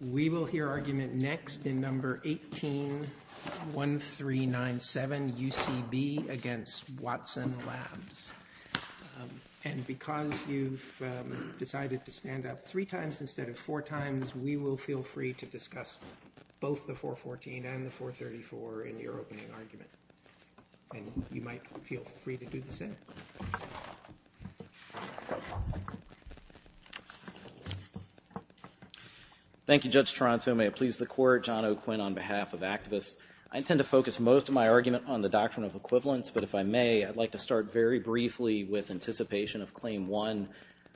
We will hear argument next in No. 18-1397, UCB v. Watson Labs. And because you've decided to stand up three times instead of four times, we will feel free to discuss both the 414 and the 434 in your opening argument. And you might feel free to do the same. Thank you, Judge Toronto. May it please the Court. John O'Quinn on behalf of activists. I intend to focus most of my argument on the doctrine of equivalence, but if I may, I'd like to start very briefly with anticipation of Claim 1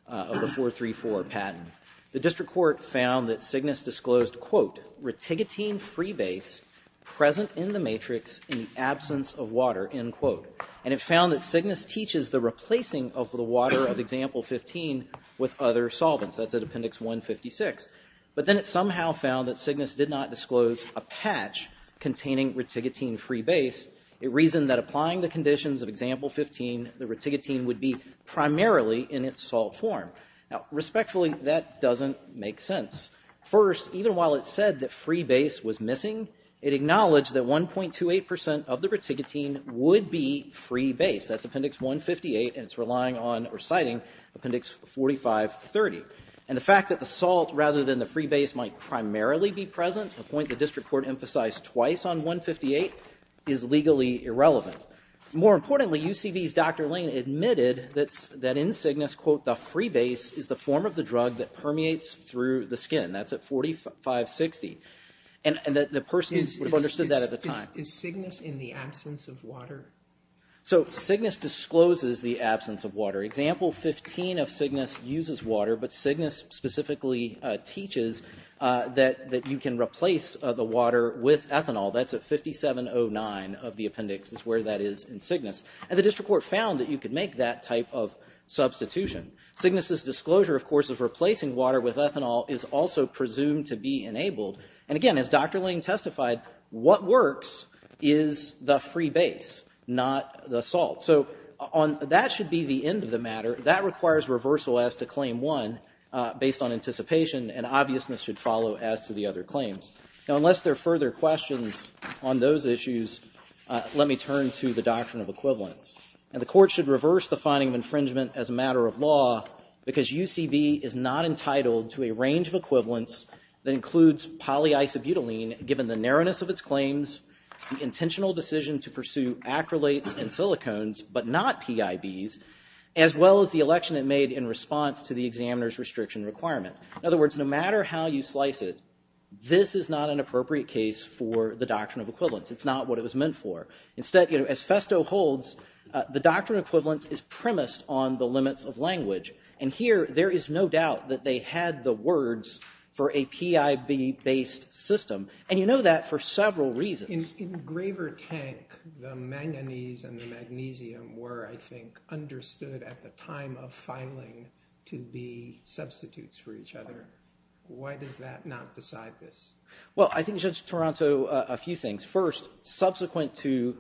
of the 434 patent. The district court found that Cygnus disclosed, quote, reticotine freebase present in the matrix in the absence of water, end quote. And it found that Cygnus teaches the replacing of the water of Example 15 with other solvents. That's at Appendix 156. But then it somehow found that Cygnus did not disclose a patch containing reticotine freebase. It reasoned that applying the conditions of Example 15, the reticotine would be primarily in its salt form. Now, respectfully, that doesn't make sense. First, even while it said that freebase was missing, it acknowledged that 1.28% of the reticotine would be freebase. That's Appendix 158, and it's relying on or citing Appendix 4530. And the fact that the salt rather than the freebase might primarily be present, a point the district court emphasized twice on 158, is legally irrelevant. More importantly, UCV's Dr. Lane admitted that in Cygnus, quote, the freebase is the form of the drug that permeates through the skin. That's at 4560. And the person would have understood that at the time. Is Cygnus in the absence of water? So Cygnus discloses the absence of water. Example 15 of Cygnus uses water, but Cygnus specifically teaches that you can replace the water with ethanol. That's at 5709 of the appendix is where that is in Cygnus. And the district court found that you could make that type of substitution. Cygnus' disclosure, of course, of replacing water with ethanol is also presumed to be enabled. And again, as Dr. Lane testified, what works is the freebase, not the salt. So that should be the end of the matter. That requires reversal as to Claim 1 based on anticipation, and obviousness should follow as to the other claims. Now, unless there are further questions on those issues, let me turn to the doctrine of equivalence. Because UCB is not entitled to a range of equivalents that includes polyisobutylene, given the narrowness of its claims, the intentional decision to pursue acrylates and silicones, but not PIBs, as well as the election it made in response to the examiner's restriction requirement. In other words, no matter how you slice it, this is not an appropriate case for the doctrine of equivalence. It's not what it was meant for. Instead, as Festo holds, the doctrine of equivalence is premised on the limits of language. And here, there is no doubt that they had the words for a PIB-based system. And you know that for several reasons. In Graver Tank, the manganese and the magnesium were, I think, understood at the time of filing to be substitutes for each other. Why does that not decide this? Well, I think, Judge Toronto, a few things. First, subsequent to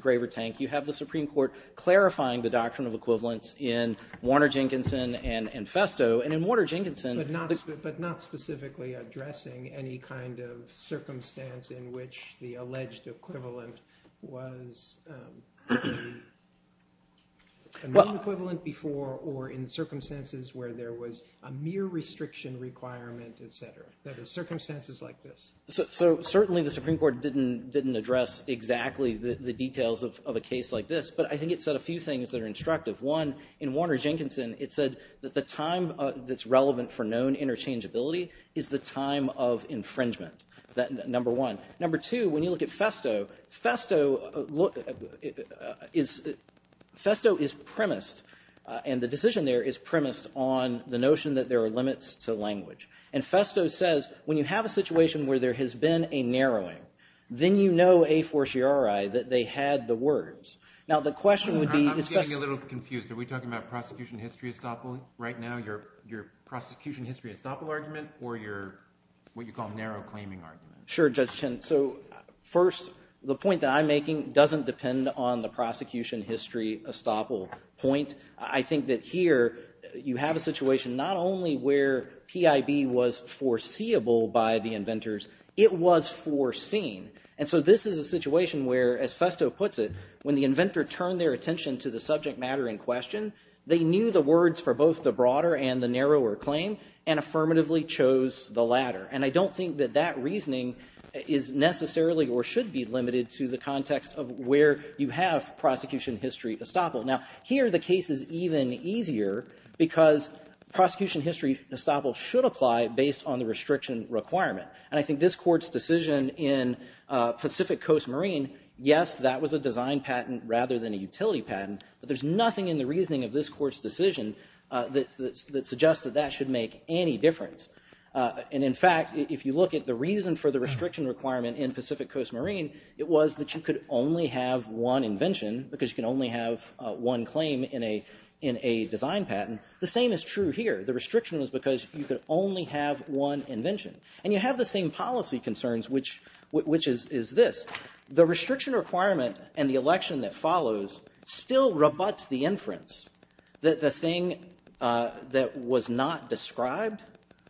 Graver Tank, you have the Supreme Court clarifying the doctrine of equivalence in Warner-Jenkinson and Festo. And in Warner-Jenkinson- But not specifically addressing any kind of circumstance in which the alleged equivalent was a mean equivalent before or in circumstances where there was a mere restriction requirement, et cetera. That is, circumstances like this. So certainly the Supreme Court didn't address exactly the details of a case like this. But I think it said a few things that are instructive. One, in Warner-Jenkinson, it said that the time that's relevant for known interchangeability is the time of infringement, number one. Number two, when you look at Festo, Festo is premised, and the decision there is premised on the notion that there are limits to language. And Festo says when you have a situation where there has been a narrowing, then you know a fortiori that they had the words. Now, the question would be- I'm getting a little confused. Are we talking about prosecution history estoppel right now, your prosecution history estoppel argument, or your what you call narrow claiming argument? Sure, Judge Chen. So first, the point that I'm making doesn't depend on the prosecution history estoppel point. I think that here you have a situation not only where PIB was foreseeable by the inventors, it was foreseen. And so this is a situation where, as Festo puts it, when the inventor turned their attention to the subject matter in question, they knew the words for both the broader and the narrower claim and affirmatively chose the latter. And I don't think that that reasoning is necessarily or should be limited to the context of where you have prosecution history estoppel. Now, here the case is even easier because prosecution history estoppel should apply based on the restriction requirement. And I think this Court's decision in Pacific Coast Marine, yes, that was a design patent rather than a utility patent, but there's nothing in the reasoning of this Court's decision that suggests that that should make any difference. And, in fact, if you look at the reason for the restriction requirement in Pacific Coast Marine, it was that you could only have one invention because you can only have one claim in a design patent. The same is true here. The restriction was because you could only have one invention. And you have the same policy concerns, which is this. The restriction requirement and the election that follows still rebuts the inference that the thing that was not described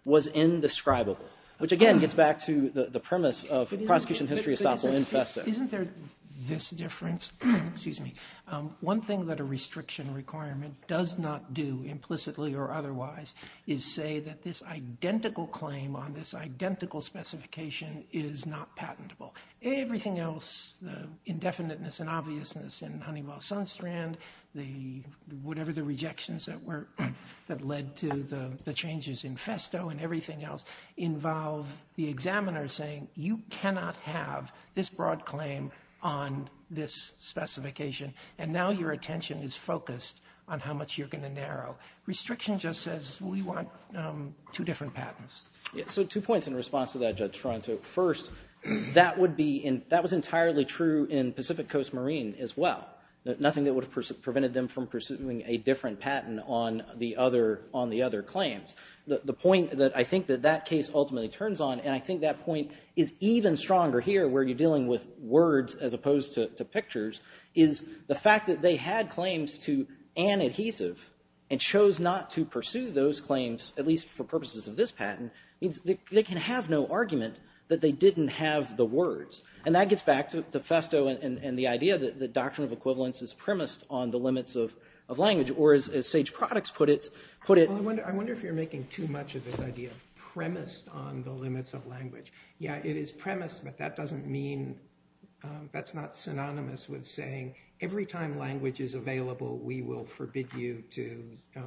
was indescribable, which, again, gets back to the premise of prosecution history estoppel infesto. Isn't there this difference? Excuse me. One thing that a restriction requirement does not do implicitly or otherwise is say that this identical claim on this identical specification is not patentable. Everything else, the indefiniteness and obviousness in Honeywell-Sunstrand, whatever the rejections that led to the changes in festo and everything else, involve the examiner saying you cannot have this broad claim on this specification, and now your attention is focused on how much you're going to narrow. Restriction just says we want two different patents. So two points in response to that, Judge Toronto. First, that was entirely true in Pacific Coast Marine as well. Nothing that would have prevented them from pursuing a different patent on the other claims. The point that I think that that case ultimately turns on, and I think that point is even stronger here where you're dealing with words as opposed to pictures, is the fact that they had claims to an adhesive and chose not to pursue those claims, at least for purposes of this patent, means they can have no argument that they didn't have the words. And that gets back to festo and the idea that the doctrine of equivalence is premised on the limits of language, or as Sage Products put it, put it I wonder if you're making too much of this idea of premised on the limits of language. Yeah, it is premised, but that doesn't mean that's not synonymous with saying every time language is available, we will forbid you to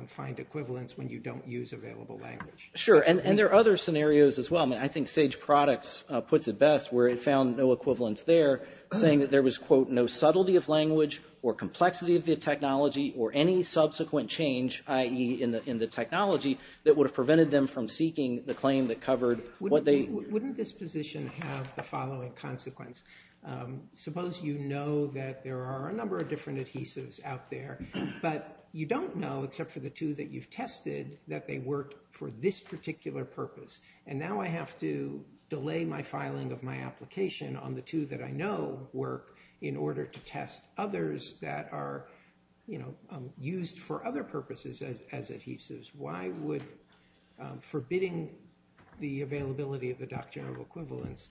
find equivalence when you don't use available language. Sure, and there are other scenarios as well. I mean, I think Sage Products puts it best where it found no equivalence there, saying that there was, quote, no subtlety of language or complexity of the technology or any subsequent change, i.e. in the technology, that would have prevented them from seeking the claim that covered what they... Wouldn't this position have the following consequence? Suppose you know that there are a number of different adhesives out there, but you don't know except for the two that you've tested that they work for this particular purpose. And now I have to delay my filing of my application on the two that I know work in order to test others that are used for other purposes as adhesives. Why would forbidding the availability of the doctrine of equivalence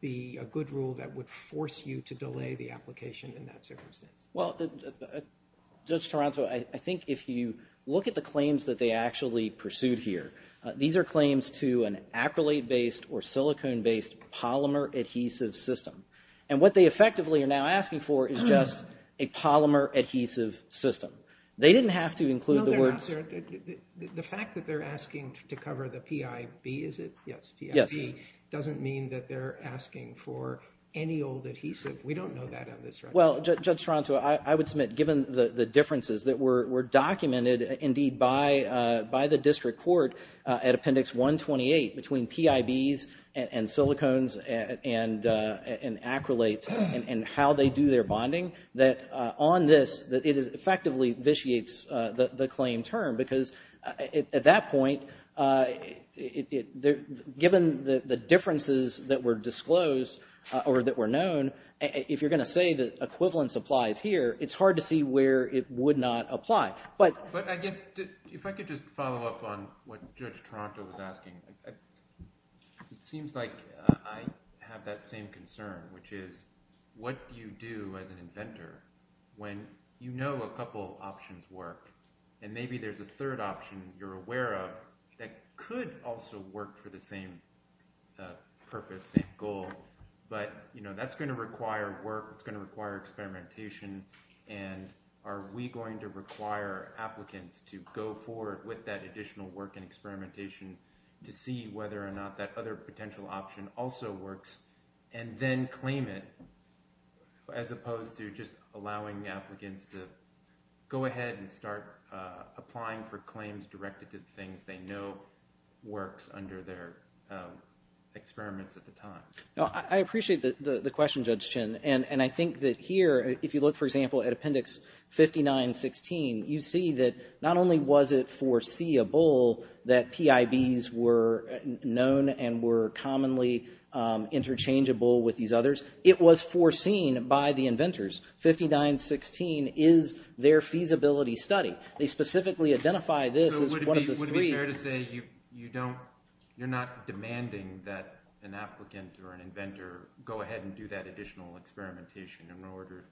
be a good rule that would force you to delay the application in that circumstance? Well, Judge Taranto, I think if you look at the claims that they actually pursued here, these are claims to an acrylate-based or silicone-based polymer adhesive system. And what they effectively are now asking for is just a polymer adhesive system. They didn't have to include the words... The fact that they're asking to cover the PIB, is it? Yes, PIB. Doesn't mean that they're asking for any old adhesive. We don't know that on this record. Well, Judge Taranto, I would submit, given the differences that were documented, indeed, by the district court at Appendix 128 between PIBs and silicones and acrylates and how they do their bonding, that on this, it effectively vitiates the claim term. Because at that point, given the differences that were disclosed or that were known, if you're going to say that equivalence applies here, it's hard to see where it would not apply. But I guess, if I could just follow up on what Judge Taranto was asking, it seems like I have that same concern, which is, what do you do as an inventor when you know a couple options work, and maybe there's a third option you're aware of that could also work for the same purpose, same goal, but that's going to require work, it's going to require experimentation, and are we going to require applicants to go forward with that additional work and experimentation to see whether or not that other potential option also works, and then claim it, as opposed to just allowing applicants to go ahead and start applying for claims directed to the things they know works under their experiments at the time? I appreciate the question, Judge Chin. And I think that here, if you look, for example, at Appendix 5916, you see that not only was it foreseeable that PIBs were known and were commonly interchangeable with these others, it was foreseen by the inventors. 5916 is their feasibility study. They specifically identify this as one of the three. So would it be fair to say you're not demanding that an applicant or an inventor go ahead and do that additional experimentation in order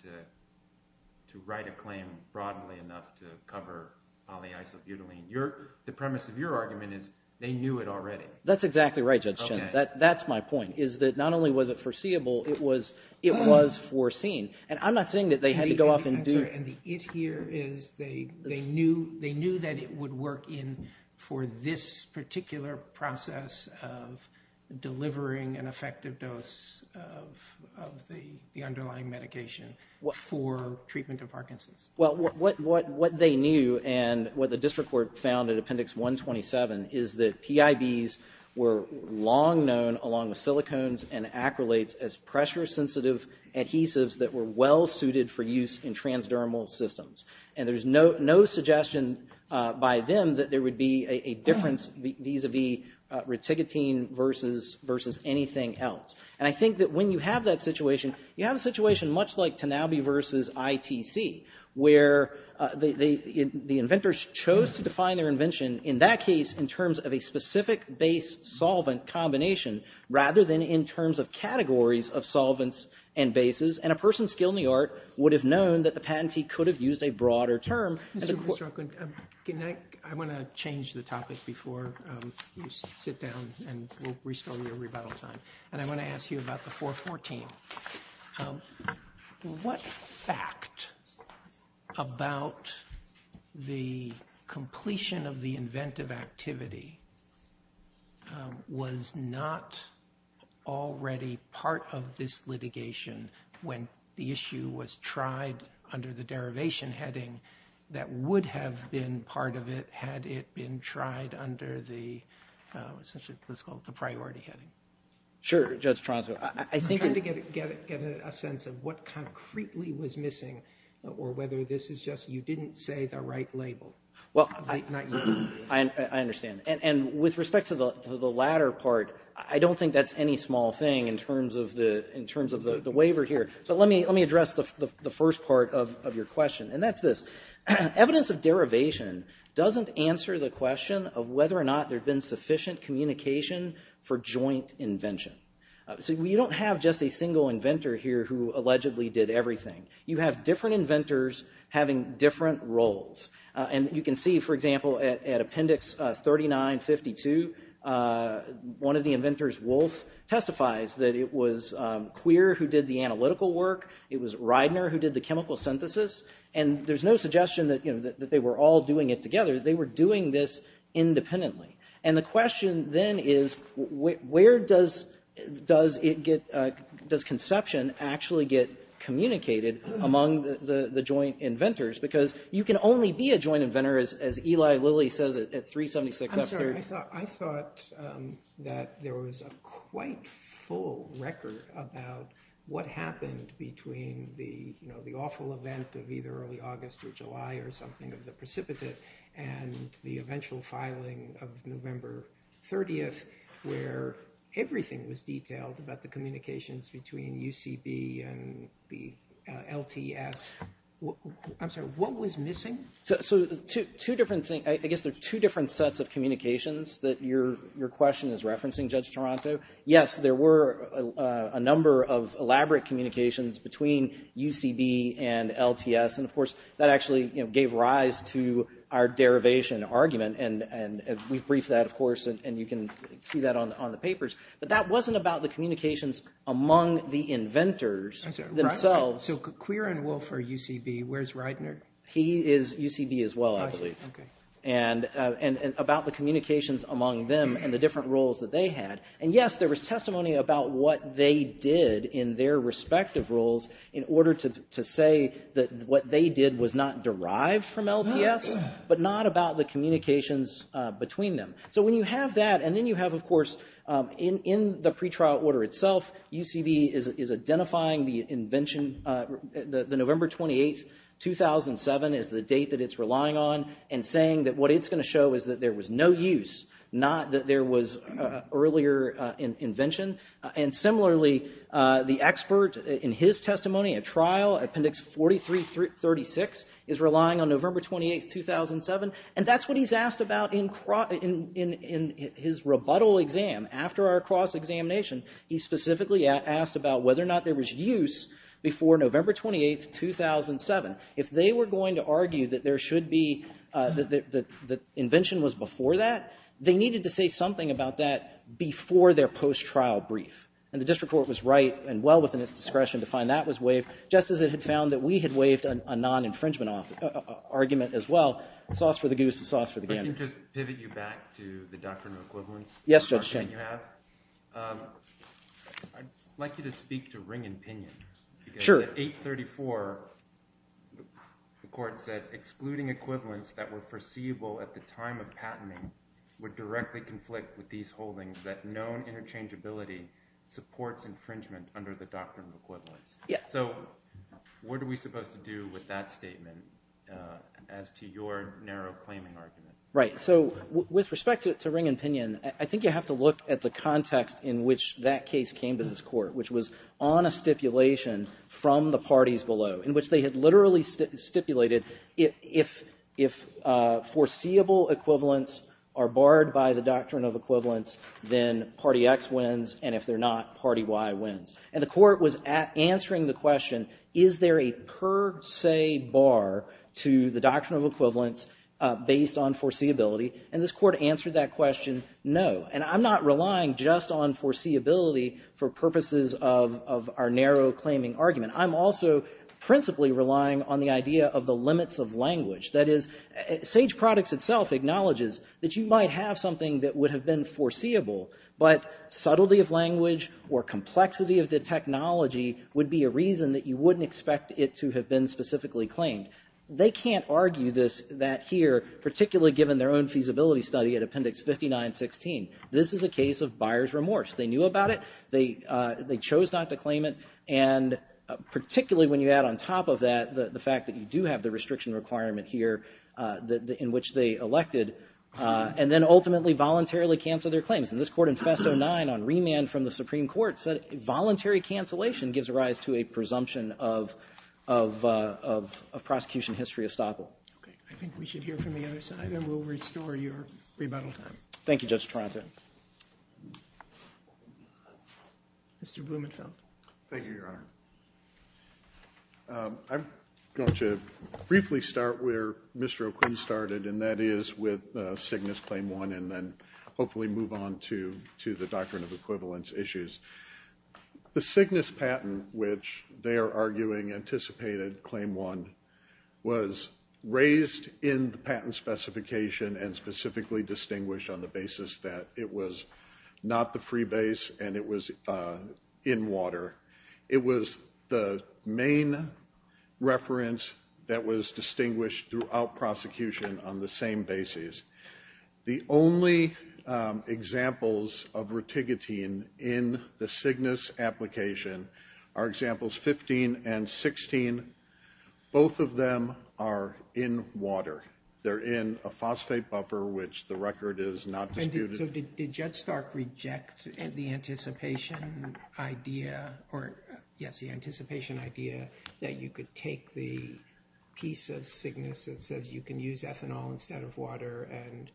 to write a claim broadly enough to cover polyisobutylene? The premise of your argument is they knew it already. That's exactly right, Judge Chin. That's my point, is that not only was it foreseeable, it was foreseen. And I'm not saying that they had to go off and do it. And the it here is they knew that it would work in for this particular process of delivering an effective dose of the underlying medication for treatment of Parkinson's. Well, what they knew and what the district court found at Appendix 127 is that PIBs were long known, along with silicones and acrylates, as pressure-sensitive adhesives that were well-suited for use in transdermal systems. And there's no suggestion by them that there would be a difference vis-a-vis reticotine versus anything else. And I think that when you have that situation, you have a situation much like Tanabe versus ITC, where the inventors chose to define their invention, in that case, in terms of a specific base-solvent combination rather than in terms of categories of solvents and bases. And a person skilled in the art would have known that the patentee could have used a broader term. Mr. O'Quinn, can I? I want to change the topic before you sit down and we'll restore your rebuttal time. And I want to ask you about the 414. What fact about the completion of the inventive activity was not already part of this litigation when the issue was tried under the derivation heading that would have been part of it had it been tried under the, essentially, let's call it the priority heading? Sure, Judge Tronso. I'm trying to get a sense of what concretely was missing or whether this is just you didn't say the right label. I understand. And with respect to the latter part, I don't think that's any small thing in terms of the waiver here. But let me address the first part of your question, and that's this. Evidence of derivation doesn't answer the question of whether or not there had been sufficient communication for joint invention. So you don't have just a single inventor here who allegedly did everything. You have different inventors having different roles. And you can see, for example, at Appendix 3952, one of the inventors, Wolf, testifies that it was Queer who did the analytical work. It was Reidner who did the chemical synthesis. And there's no suggestion that they were all doing it together. They were doing this independently. And the question then is, where does conception actually get communicated among the joint inventors? Because you can only be a joint inventor, as Eli Lilly says at 376. I'm sorry. I thought that there was a quite full record about what happened between the awful event of either early August or July or something of the precipitate and the eventual filing of November 30th, where everything was detailed about the communications between UCB and the LTS. I'm sorry. What was missing? So two different things. I guess there are two different sets of communications that your question is referencing, Judge Toronto. Yes, there were a number of elaborate communications between UCB and LTS. And, of course, that actually gave rise to our derivation argument. And we've briefed that, of course, and you can see that on the papers. But that wasn't about the communications among the inventors themselves. So Queer and Wolf are UCB. Where's Reidner? He is UCB as well, I believe. I see. Okay. And about the communications among them and the different roles that they had. And, yes, there was testimony about what they did in their respective roles in order to say that what they did was not derived from LTS, but not about the communications between them. So when you have that and then you have, of course, in the pretrial order itself, UCB is identifying the invention, the November 28th, 2007 is the date that it's relying on and saying that what it's going to show is that there was no use, not that there was earlier invention. And, similarly, the expert in his testimony at trial, Appendix 4336, is relying on November 28th, 2007. And that's what he's asked about in his rebuttal exam after our cross-examination. He specifically asked about whether or not there was use before November 28th, 2007. If they were going to argue that there should be, that the invention was before that, they needed to say something about that before their post-trial brief. And the district court was right and well within its discretion to find that was waived, just as it had found that we had waived a non-infringement argument as well. Sauce for the goose, sauce for the gander. If I can just pivot you back to the doctrine of equivalence. Yes, Judge Chen. I'd like you to speak to ring and pinion. Sure. Under the 834, the court said, excluding equivalence that were foreseeable at the time of patenting would directly conflict with these holdings that known interchangeability supports infringement under the doctrine of equivalence. Yes. So what are we supposed to do with that statement as to your narrow claiming argument? Right, so with respect to ring and pinion, I think you have to look at the context in which that case came to this court, which was on a stipulation from the parties below, in which they had literally stipulated, if foreseeable equivalence are barred by the doctrine of equivalence, then party X wins, and if they're not, party Y wins. And the court was answering the question, is there a per se bar to the doctrine of equivalence based on foreseeability? And this court answered that question, no. And I'm not relying just on foreseeability for purposes of our narrow claiming argument. I'm also principally relying on the idea of the limits of language. That is, Sage Products itself acknowledges that you might have something that would have been foreseeable, but subtlety of language or complexity of the technology would be a reason that you wouldn't expect it to have been specifically claimed. They can't argue this, that here, particularly given their own feasibility study at Appendix 59-16, this is a case of buyer's remorse. They knew about it. They chose not to claim it, and particularly when you add on top of that the fact that you do have the restriction requirement here in which they elected, and then ultimately voluntarily cancel their claims. And this court in Festo 9, on remand from the Supreme Court, said voluntary cancellation gives rise to a presumption of prosecution history estoppel. Okay, I think we should hear from the other side, and we'll restore your rebuttal time. Thank you, Judge Taranto. Mr. Blumenfeld. Thank you, Your Honor. I'm going to briefly start where Mr. O'Quinn started, and that is with Cygnus Claim 1, and then hopefully move on to the Doctrine of Equivalence issues. The Cygnus patent, which they are arguing anticipated Claim 1, was raised in the patent specification and specifically distinguished on the basis that it was not the free base and it was in water. It was the main reference that was distinguished throughout prosecution on the same basis. The only examples of reticotine in the Cygnus application are examples 15 and 16. Both of them are in water. They're in a phosphate buffer, which the record is not disputed. So did Judge Stark reject the anticipation idea or, yes, the anticipation idea that you could take the piece of Cygnus that says you can use ethanol instead of water and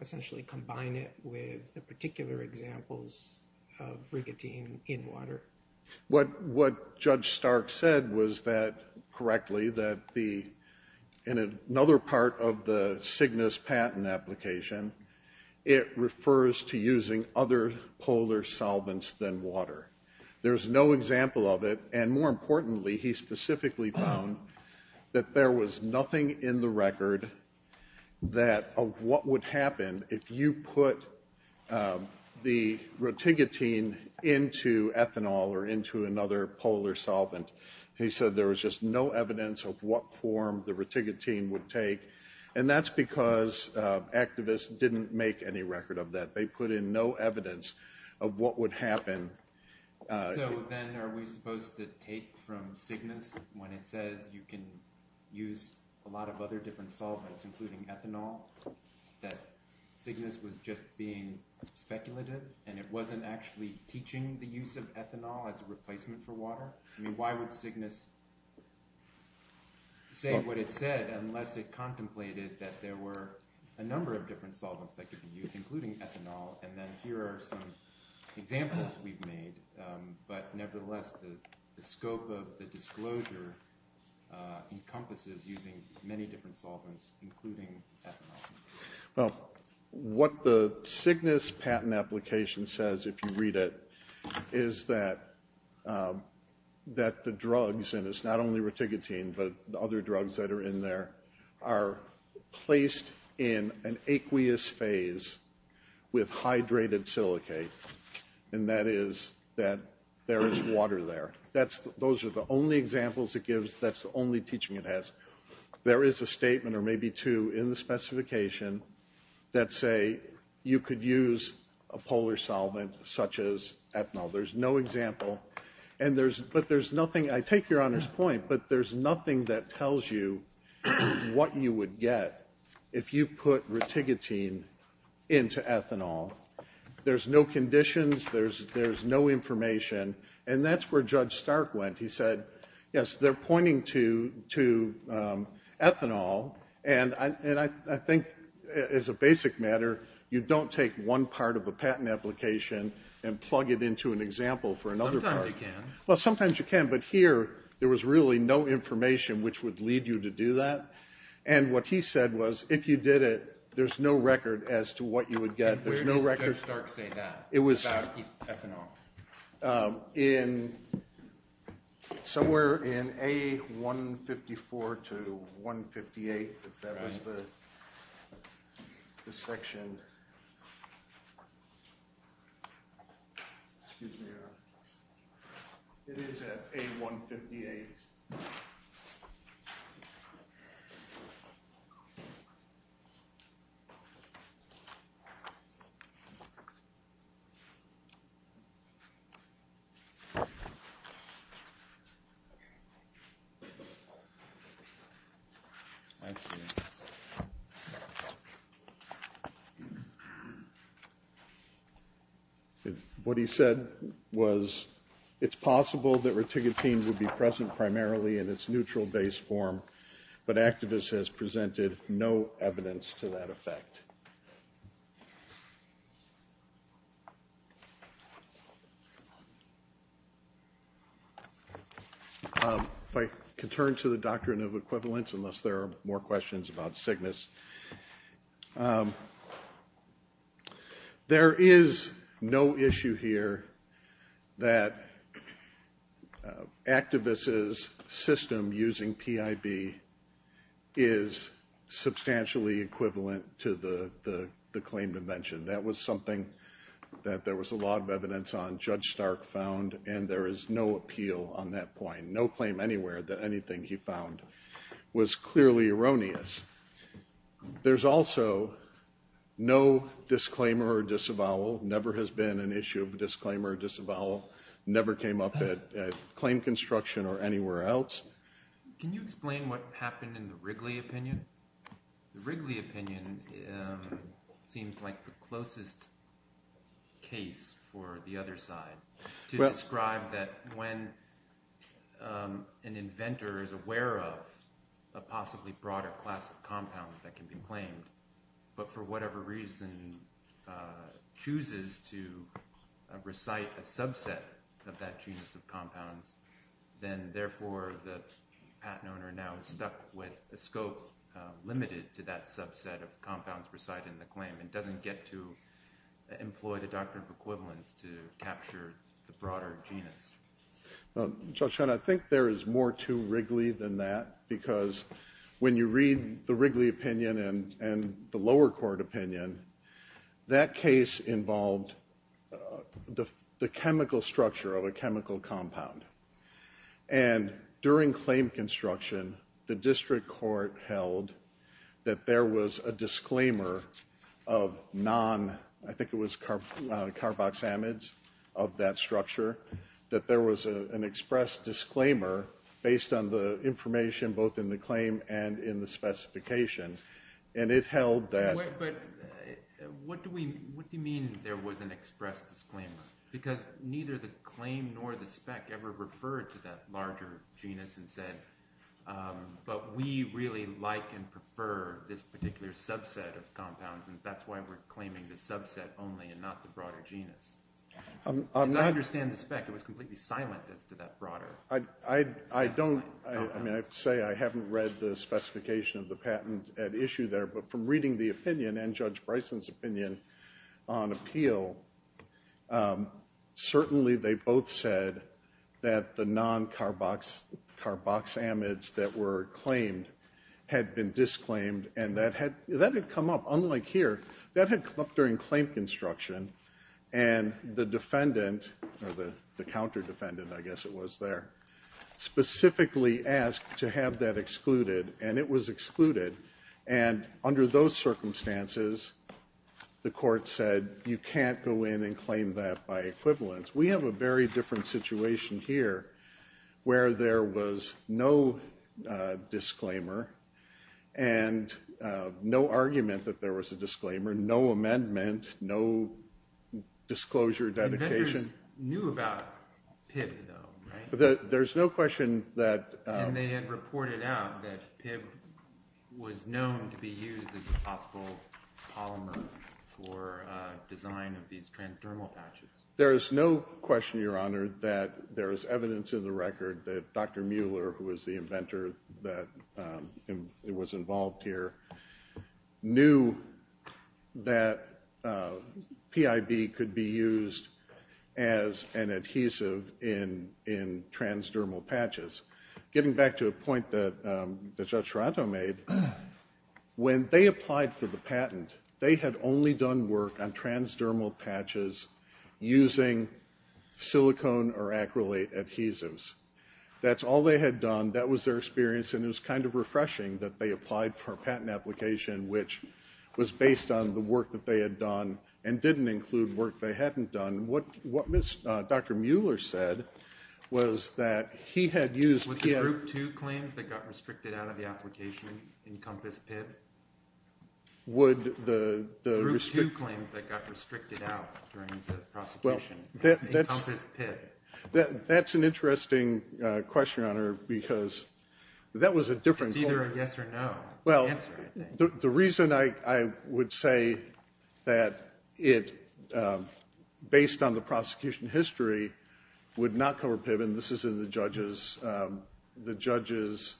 essentially combine it with the particular examples of rigotine in water? What Judge Stark said was that, correctly, that in another part of the Cygnus patent application, it refers to using other polar solvents than water. There's no example of it, and more importantly, he specifically found that there was nothing in the record that of what would happen if you put the reticotine into ethanol or into another polar solvent. He said there was just no evidence of what form the reticotine would take, and that's because activists didn't make any record of that. They put in no evidence of what would happen. So then are we supposed to take from Cygnus when it says you can use a lot of other different solvents, including ethanol, that Cygnus was just being speculative and it wasn't actually teaching the use of ethanol as a replacement for water? I mean, why would Cygnus say what it said unless it contemplated that there were a number of different solvents that could be used, including ethanol? And then here are some examples we've made, but nevertheless the scope of the disclosure encompasses using many different solvents, including ethanol. Well, what the Cygnus patent application says, if you read it, is that the drugs, and it's not only reticotine, but the other drugs that are in there, are placed in an aqueous phase with hydrated silicate, and that is that there is water there. Those are the only examples it gives. That's the only teaching it has. There is a statement or maybe two in the specification that say you could use a polar solvent such as ethanol. There's no example, but there's nothing. I take Your Honor's point, but there's nothing that tells you what you would get if you put reticotine into ethanol. There's no conditions. There's no information. And that's where Judge Stark went. He said, yes, they're pointing to ethanol, and I think as a basic matter, you don't take one part of a patent application and plug it into an example for another part. Sometimes you can. Well, sometimes you can, but here there was really no information which would lead you to do that, and what he said was if you did it, there's no record as to what you would get. Where did Judge Stark say that about ethanol? Somewhere in A154 to 158, if that was the section. Excuse me, Your Honor. It is at A158. Thank you. If I could turn to the doctrine of equivalence, unless there are more questions about Cygnus. There is no issue here that activists' system using PIB is substantially equivalent to the claim to mention. That was something that there was a lot of evidence on. Judge Stark found, and there is no appeal on that point, no claim anywhere that anything he found was clearly erroneous. There's also no disclaimer or disavowal, never has been an issue of a disclaimer or disavowal, never came up at claim construction or anywhere else. Can you explain what happened in the Wrigley opinion? The Wrigley opinion seems like the closest case for the other side to describe that when an inventor is aware of a possibly broader class of compounds that can be claimed, but for whatever reason chooses to recite a subset of that genus of compounds, then therefore the patent owner now is stuck with a scope limited to that subset of compounds recited in the claim and doesn't get to employ the doctrine of equivalence to capture the broader genus. Judge Hunt, I think there is more to Wrigley than that because when you read the Wrigley opinion and the lower court opinion, that case involved the chemical structure of a chemical compound. And during claim construction, the district court held that there was a disclaimer of non-I think it was carboxamides of that structure, that there was an express disclaimer based on the information both in the claim and in the specification, and it held that- But what do you mean there was an express disclaimer? Because neither the claim nor the spec ever referred to that larger genus but we really like and prefer this particular subset of compounds and that's why we're claiming the subset only and not the broader genus. As I understand the spec, it was completely silent as to that broader- I don't- I mean I have to say I haven't read the specification of the patent at issue there, but from reading the opinion and Judge Bryson's opinion on appeal, certainly they both said that the non-carboxamides that were claimed had been disclaimed and that had come up. Unlike here, that had come up during claim construction and the defendant, or the counter-defendant I guess it was there, specifically asked to have that excluded and it was excluded. And under those circumstances, the court said, you can't go in and claim that by equivalence. We have a very different situation here where there was no disclaimer and no argument that there was a disclaimer, no amendment, no disclosure, dedication. The defenders knew about PIB though, right? There's no question that- And they had reported out that PIB was known to be used as a possible polymer for design of these transdermal patches. There is no question, Your Honor, that there is evidence in the record that Dr. Mueller, who was the inventor that was involved here, knew that PIB could be used as an adhesive in transdermal patches. Getting back to a point that Judge Serrato made, when they applied for the patent, they had only done work on transdermal patches using silicone or acrylate adhesives. That's all they had done, that was their experience, and it was kind of refreshing that they applied for a patent application which was based on the work that they had done and didn't include work they hadn't done. What Dr. Mueller said was that he had used PIB- Would the Group 2 claims that got restricted out of the application encompass PIB? Would the- The Group 2 claims that got restricted out during the prosecution encompass PIB. That's an interesting question, Your Honor, because that was a different- It's either a yes or no answer, I think. Well, the reason I would say that it, based on the prosecution history, would not cover PIB, and this is in the judges'- the judges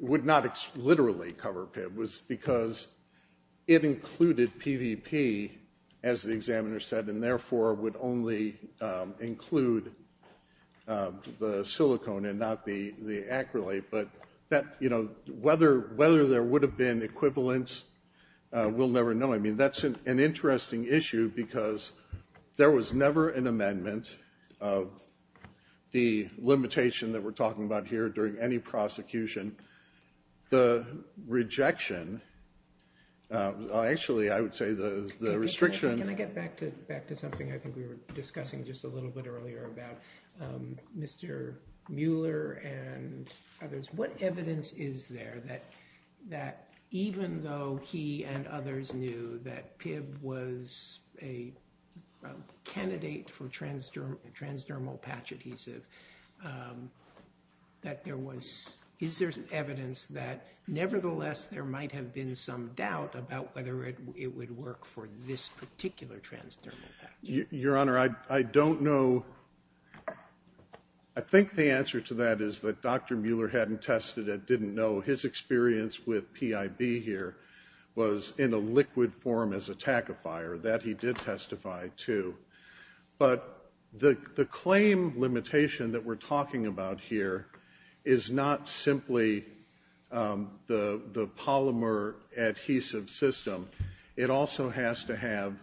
would not literally cover PIB, was because it included PVP, as the examiner said, and therefore would only include the silicone and not the acrylate. But whether there would have been equivalents, we'll never know. I mean, that's an interesting issue because there was never an amendment of the limitation that we're talking about here during any prosecution. The rejection- Actually, I would say the restriction- Can I get back to something I think we were discussing just a little bit earlier about Mr. Mueller and others? What evidence is there that even though he and others knew that PIB was a candidate for transdermal patch adhesive, that there was- Is there evidence that nevertheless there might have been some doubt about whether it would work for this particular transdermal patch? Your Honor, I don't know. I think the answer to that is that Dr. Mueller hadn't tested it, didn't know. His experience with PIB here was in a liquid form as a tachyphyre. That he did testify to. But the claim limitation that we're talking about here is not simply the polymer adhesive system. It also has to have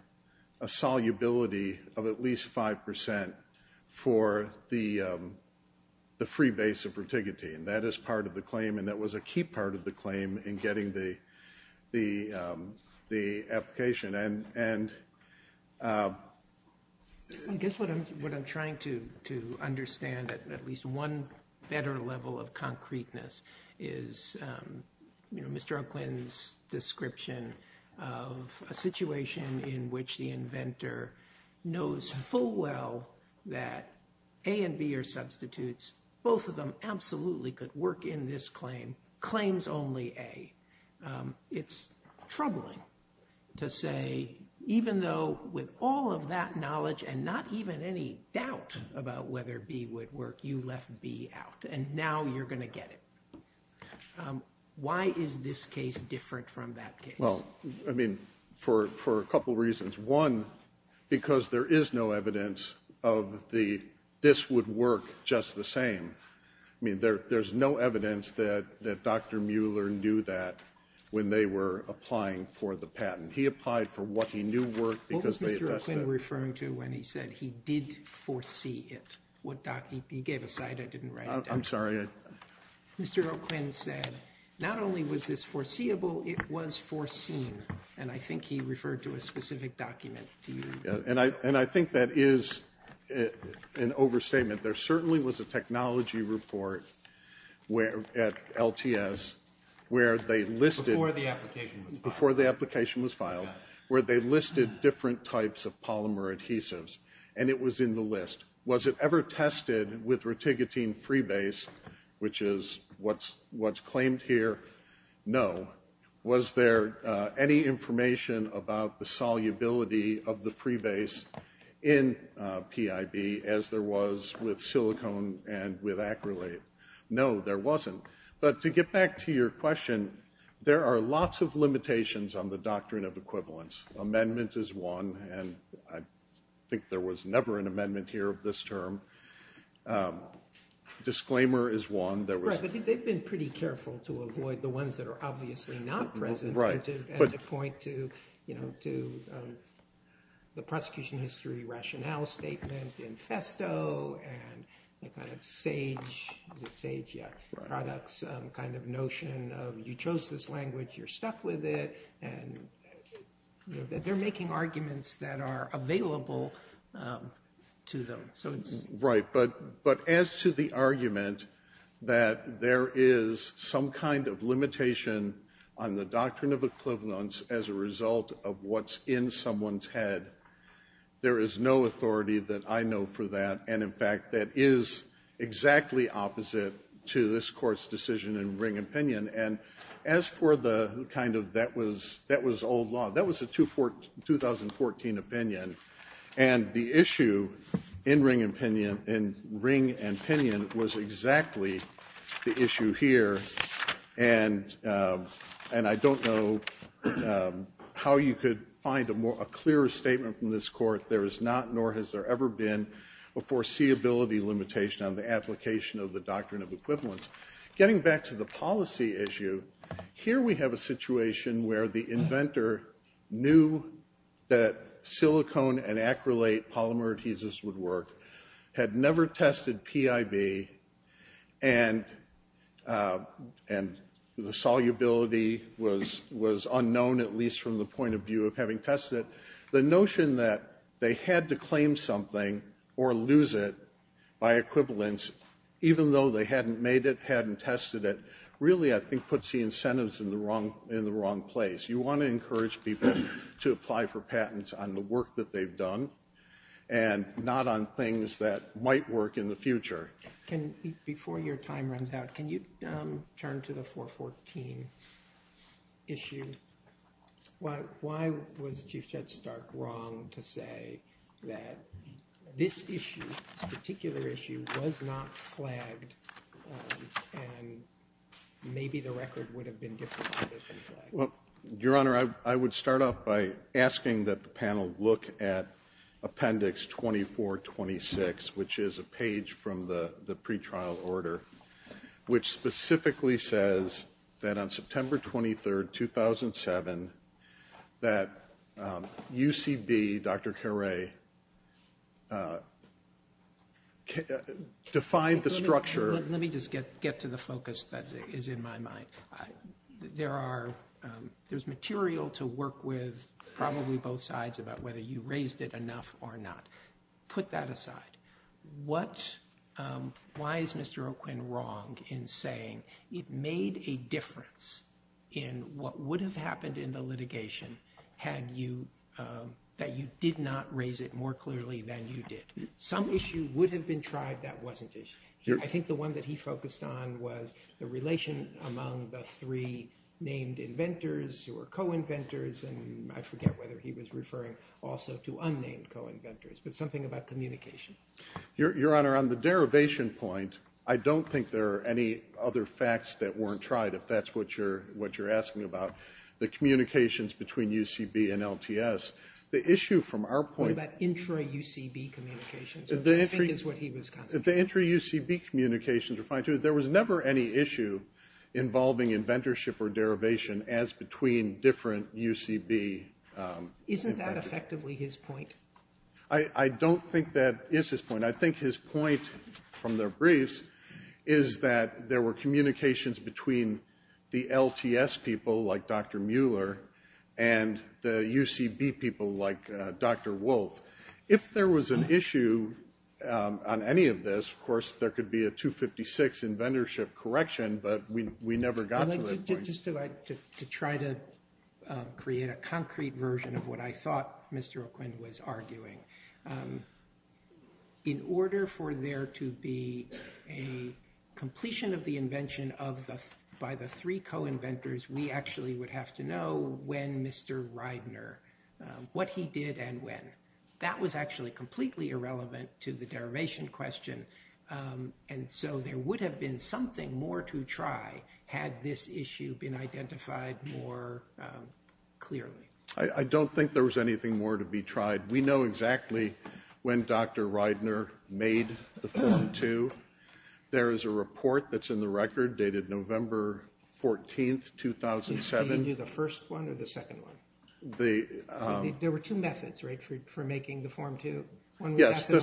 a solubility of at least 5% for the free base of reticotine. That is part of the claim, and that was a key part of the claim in getting the application. I guess what I'm trying to understand, at least one better level of concreteness, is Mr. O'Quinn's description of a situation in which the inventor knows full well that A and B are substitutes. Both of them absolutely could work in this claim. Claims only A. It's troubling to say, even though with all of that knowledge and not even any doubt about whether B would work, you left B out. And now you're going to get it. Why is this case different from that case? Well, I mean, for a couple reasons. One, because there is no evidence of the this would work just the same. I mean, there's no evidence that Dr. Mueller knew that when they were applying for the patent. He applied for what he knew worked because they addressed that. What was Mr. O'Quinn referring to when he said he did foresee it? He gave a side I didn't write down. I'm sorry. Mr. O'Quinn said not only was this foreseeable, it was foreseen. And I think he referred to a specific document. And I think that is an overstatement. There certainly was a technology report at LTS where they listed. Before the application was filed. Before the application was filed, where they listed different types of polymer adhesives. And it was in the list. Was it ever tested with reticotine freebase, which is what's claimed here? No. Was there any information about the solubility of the freebase in PIB as there was with silicone and with acrylate? No, there wasn't. But to get back to your question, there are lots of limitations on the doctrine of equivalence. Amendment is one. And I think there was never an amendment here of this term. Disclaimer is one. They've been pretty careful to avoid the ones that are obviously not present. Right. And to point to the prosecution history rationale statement in Festo and the kind of sage products kind of notion of you chose this language, you're stuck with it. And they're making arguments that are available to them. Right. But as to the argument that there is some kind of limitation on the doctrine of equivalence as a result of what's in someone's head, there is no authority that I know for that. And, in fact, that is exactly opposite to this Court's decision in Ring Opinion. And as for the kind of that was old law, that was a 2014 opinion. And the issue in Ring Opinion was exactly the issue here. And I don't know how you could find a clearer statement from this Court. There is not, nor has there ever been, a foreseeability limitation on the application of the doctrine of equivalence. Getting back to the policy issue, here we have a situation where the inventor knew that silicone and acrylate polymer adhesives would work, had never tested PIB, and the solubility was unknown, at least from the point of view of having tested it. The notion that they had to claim something or lose it by equivalence, even though they hadn't made it, hadn't tested it, really, I think, puts the incentives in the wrong place. You want to encourage people to apply for patents on the work that they've done and not on things that might work in the future. Before your time runs out, can you turn to the 414 issue? Why was Chief Judge Stark wrong to say that this issue, this particular issue, was not flagged and maybe the record would have been different if it had been flagged? Well, Your Honor, I would start off by asking that the panel look at Appendix 2426, which is a page from the pretrial order, which specifically says that on September 23, 2007, that UCB, Dr. Caray, defined the structure Let me just get to the focus that is in my mind. There's material to work with, probably both sides, about whether you raised it enough or not. Put that aside. Why is Mr. O'Quinn wrong in saying it made a difference in what would have happened in the litigation, that you did not raise it more clearly than you did? Some issue would have been tried that wasn't issued. I think the one that he focused on was the relation among the three named inventors who were co-inventors, and I forget whether he was referring also to unnamed co-inventors, but something about communication. Your Honor, on the derivation point, I don't think there are any other facts that weren't tried, if that's what you're asking about. The communications between UCB and LTS. What about intra-UCB communications, which I think is what he was concentrating on. The intra-UCB communications were fine, too. There was never any issue involving inventorship or derivation as between different UCB inventors. Isn't that effectively his point? I don't think that is his point. I think his point, from their briefs, is that there were communications between the LTS people, like Dr. Mueller, and the UCB people, like Dr. Wolf. If there was an issue on any of this, of course, there could be a 256 inventorship correction, but we never got to that point. Just to try to create a concrete version of what I thought Mr. O'Quinn was arguing, in order for there to be a completion of the invention by the three co-inventors, we actually would have to know when Mr. Reidner, what he did and when. That was actually completely irrelevant to the derivation question, and so there would have been something more to try, had this issue been identified more clearly. I don't think there was anything more to be tried. We know exactly when Dr. Reidner made the Form 2. There is a report that's in the record dated November 14, 2007. Did he do the first one or the second one? There were two methods for making the Form 2. Yes, the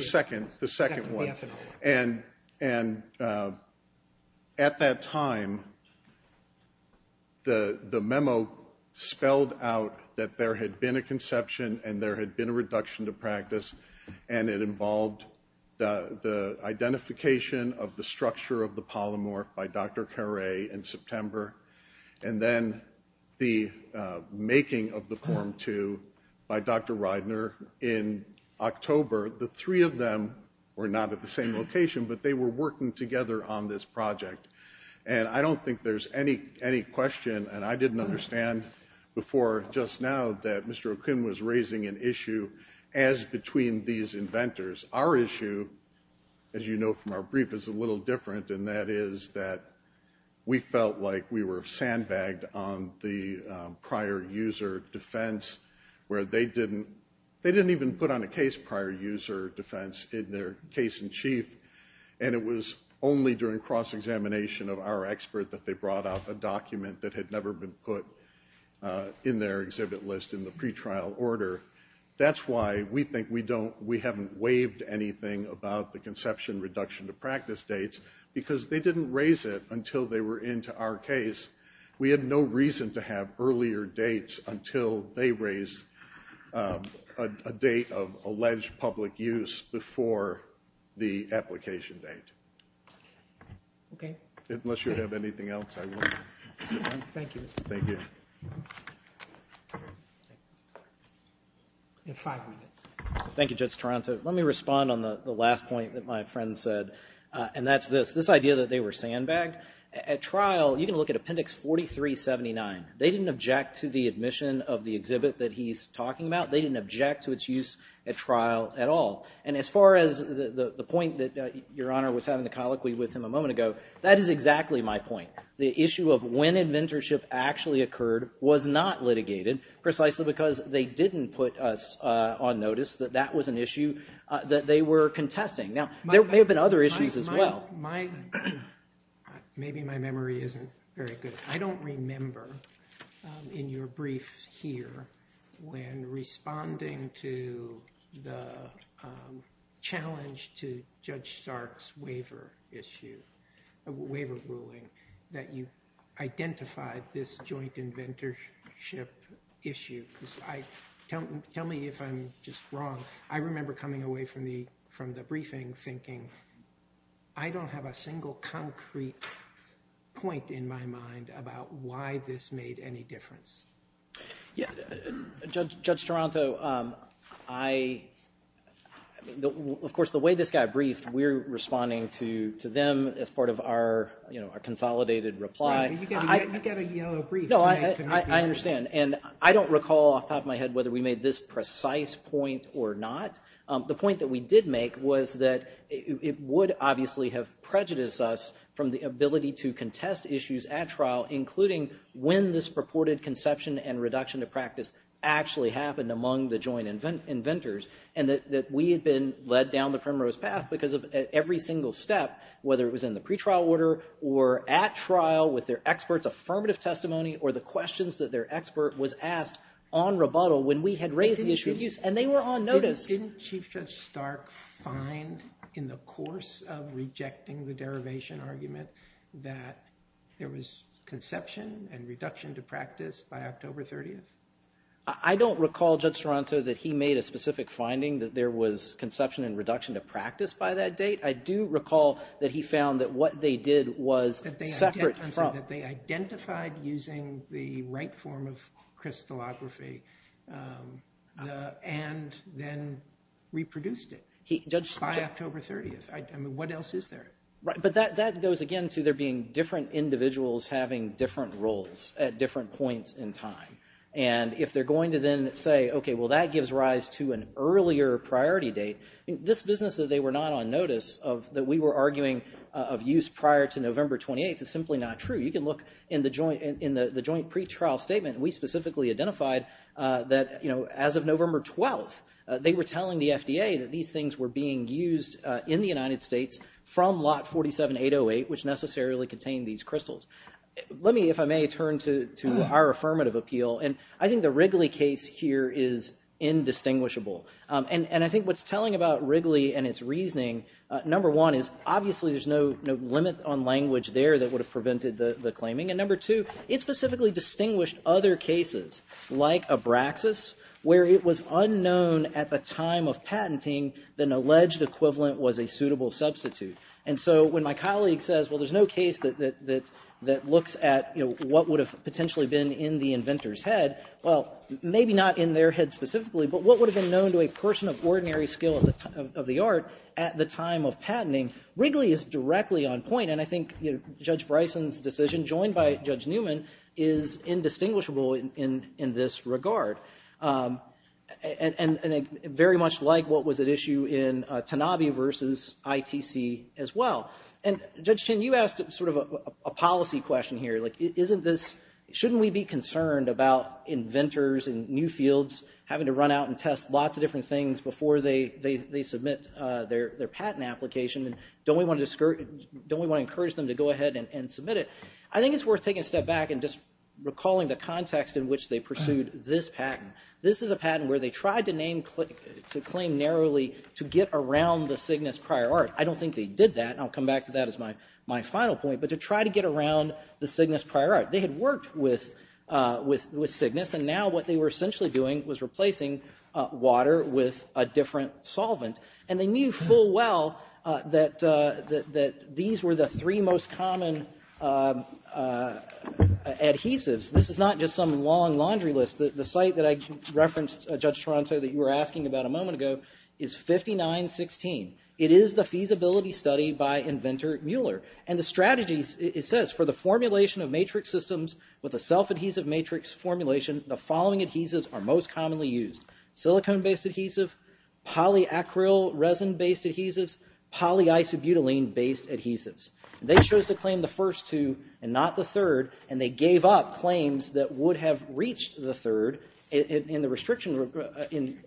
second one. At that time, the memo spelled out that there had been a conception and there had been a reduction to practice. It involved the identification of the structure of the polymorph by Dr. Caray in September, and then the making of the Form 2 by Dr. Reidner in October. The three of them were not at the same location, but they were working together on this project. I don't think there's any question, and I didn't understand before just now, that Mr. Okun was raising an issue as between these inventors. Our issue, as you know from our brief, is a little different, and that is that we felt like we were sandbagged on the prior user defense, where they didn't even put on a case prior user defense in their case-in-chief, and it was only during cross-examination of our expert that they brought out a document that had never been put in their exhibit list in the pretrial order. That's why we think we haven't waived anything about the conception reduction to practice dates, because they didn't raise it until they were into our case. We had no reason to have earlier dates until they raised a date of alleged public use before the application date. Okay. Unless you have anything else, I won't. Thank you. Thank you. You have five minutes. Thank you, Judge Toronto. So let me respond on the last point that my friend said, and that's this, this idea that they were sandbagged. At trial, you can look at Appendix 4379. They didn't object to the admission of the exhibit that he's talking about. They didn't object to its use at trial at all. And as far as the point that Your Honor was having the colloquy with him a moment ago, that is exactly my point. The issue of when inventorship actually occurred was not litigated precisely because they didn't put us on notice that that was an issue that they were contesting. Now, there may have been other issues as well. Maybe my memory isn't very good. I don't remember in your brief here when responding to the challenge to Judge Stark's waiver issue, waiver ruling, that you identified this joint inventorship issue. Tell me if I'm just wrong. I remember coming away from the briefing thinking, I don't have a single concrete point in my mind about why this made any difference. Judge Toronto, of course, the way this guy briefed, we're responding to them as part of our consolidated reply. You get a yellow brief. I understand. And I don't recall off the top of my head whether we made this precise point or not. The point that we did make was that it would obviously have prejudiced us from the ability to contest issues at trial, including when this purported conception and reduction of practice actually happened among the joint inventors, and that we had been led down the primrose path because of every single step, whether it was in the pretrial order or at trial with their experts' affirmative testimony or the questions that their expert was asked on rebuttal when we had raised the issue of use. And they were on notice. Didn't Chief Judge Stark find in the course of rejecting the derivation argument that there was conception and reduction to practice by October 30th? I don't recall, Judge Toronto, that he made a specific finding that there was conception and reduction to practice by that date. I do recall that he found that what they did was separate from- That they identified using the right form of crystallography and then reproduced it by October 30th. I mean, what else is there? Right. But that goes, again, to there being different individuals having different roles at different points in time. And if they're going to then say, okay, well, that gives rise to an earlier priority date, this business that they were not on notice of that we were arguing of use prior to November 28th is simply not true. You can look in the joint pretrial statement. We specifically identified that, you know, as of November 12th, they were telling the FDA that these things were being used in the United States from lot 47808, which necessarily contained these crystals. Let me, if I may, turn to our affirmative appeal. And I think the Wrigley case here is indistinguishable. And I think what's telling about Wrigley and its reasoning, number one, is obviously there's no limit on language there that would have prevented the claiming. And number two, it specifically distinguished other cases, like Abraxas, where it was unknown at the time of patenting that an alleged equivalent was a suitable substitute. And so when my colleague says, well, there's no case that looks at, you know, what would have potentially been in the inventor's head, well, maybe not in their head specifically, but what would have been known to a person of ordinary skill of the art at the time of patenting, Wrigley is directly on point. And I think Judge Bryson's decision, joined by Judge Newman, is indistinguishable in this regard. And very much like what was at issue in Tanabe v. ITC as well. And Judge Chin, you asked sort of a policy question here. Like, shouldn't we be concerned about inventors in new fields having to run out and test lots of different things before they submit their patent application? And don't we want to encourage them to go ahead and submit it? I think it's worth taking a step back and just recalling the context in which they pursued this patent. This is a patent where they tried to claim narrowly to get around the Cygnus prior art. I don't think they did that, and I'll come back to that as my final point. But to try to get around the Cygnus prior art. They had worked with Cygnus, and now what they were essentially doing was replacing water with a different solvent. And they knew full well that these were the three most common adhesives. This is not just some long laundry list. The site that I referenced, Judge Toronto, that you were asking about a moment ago, is 5916. It is the feasibility study by inventor Mueller. And the strategies, it says, for the formulation of matrix systems with a self-adhesive matrix formulation, the following adhesives are most commonly used. Silicone-based adhesive, polyacryl resin-based adhesives, polyisobutylene-based adhesives. They chose to claim the first two and not the third, and they gave up claims that would have reached the third in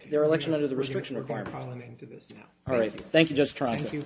their election under the restriction requirement. All right, thank you, Judge Toronto. Thank you.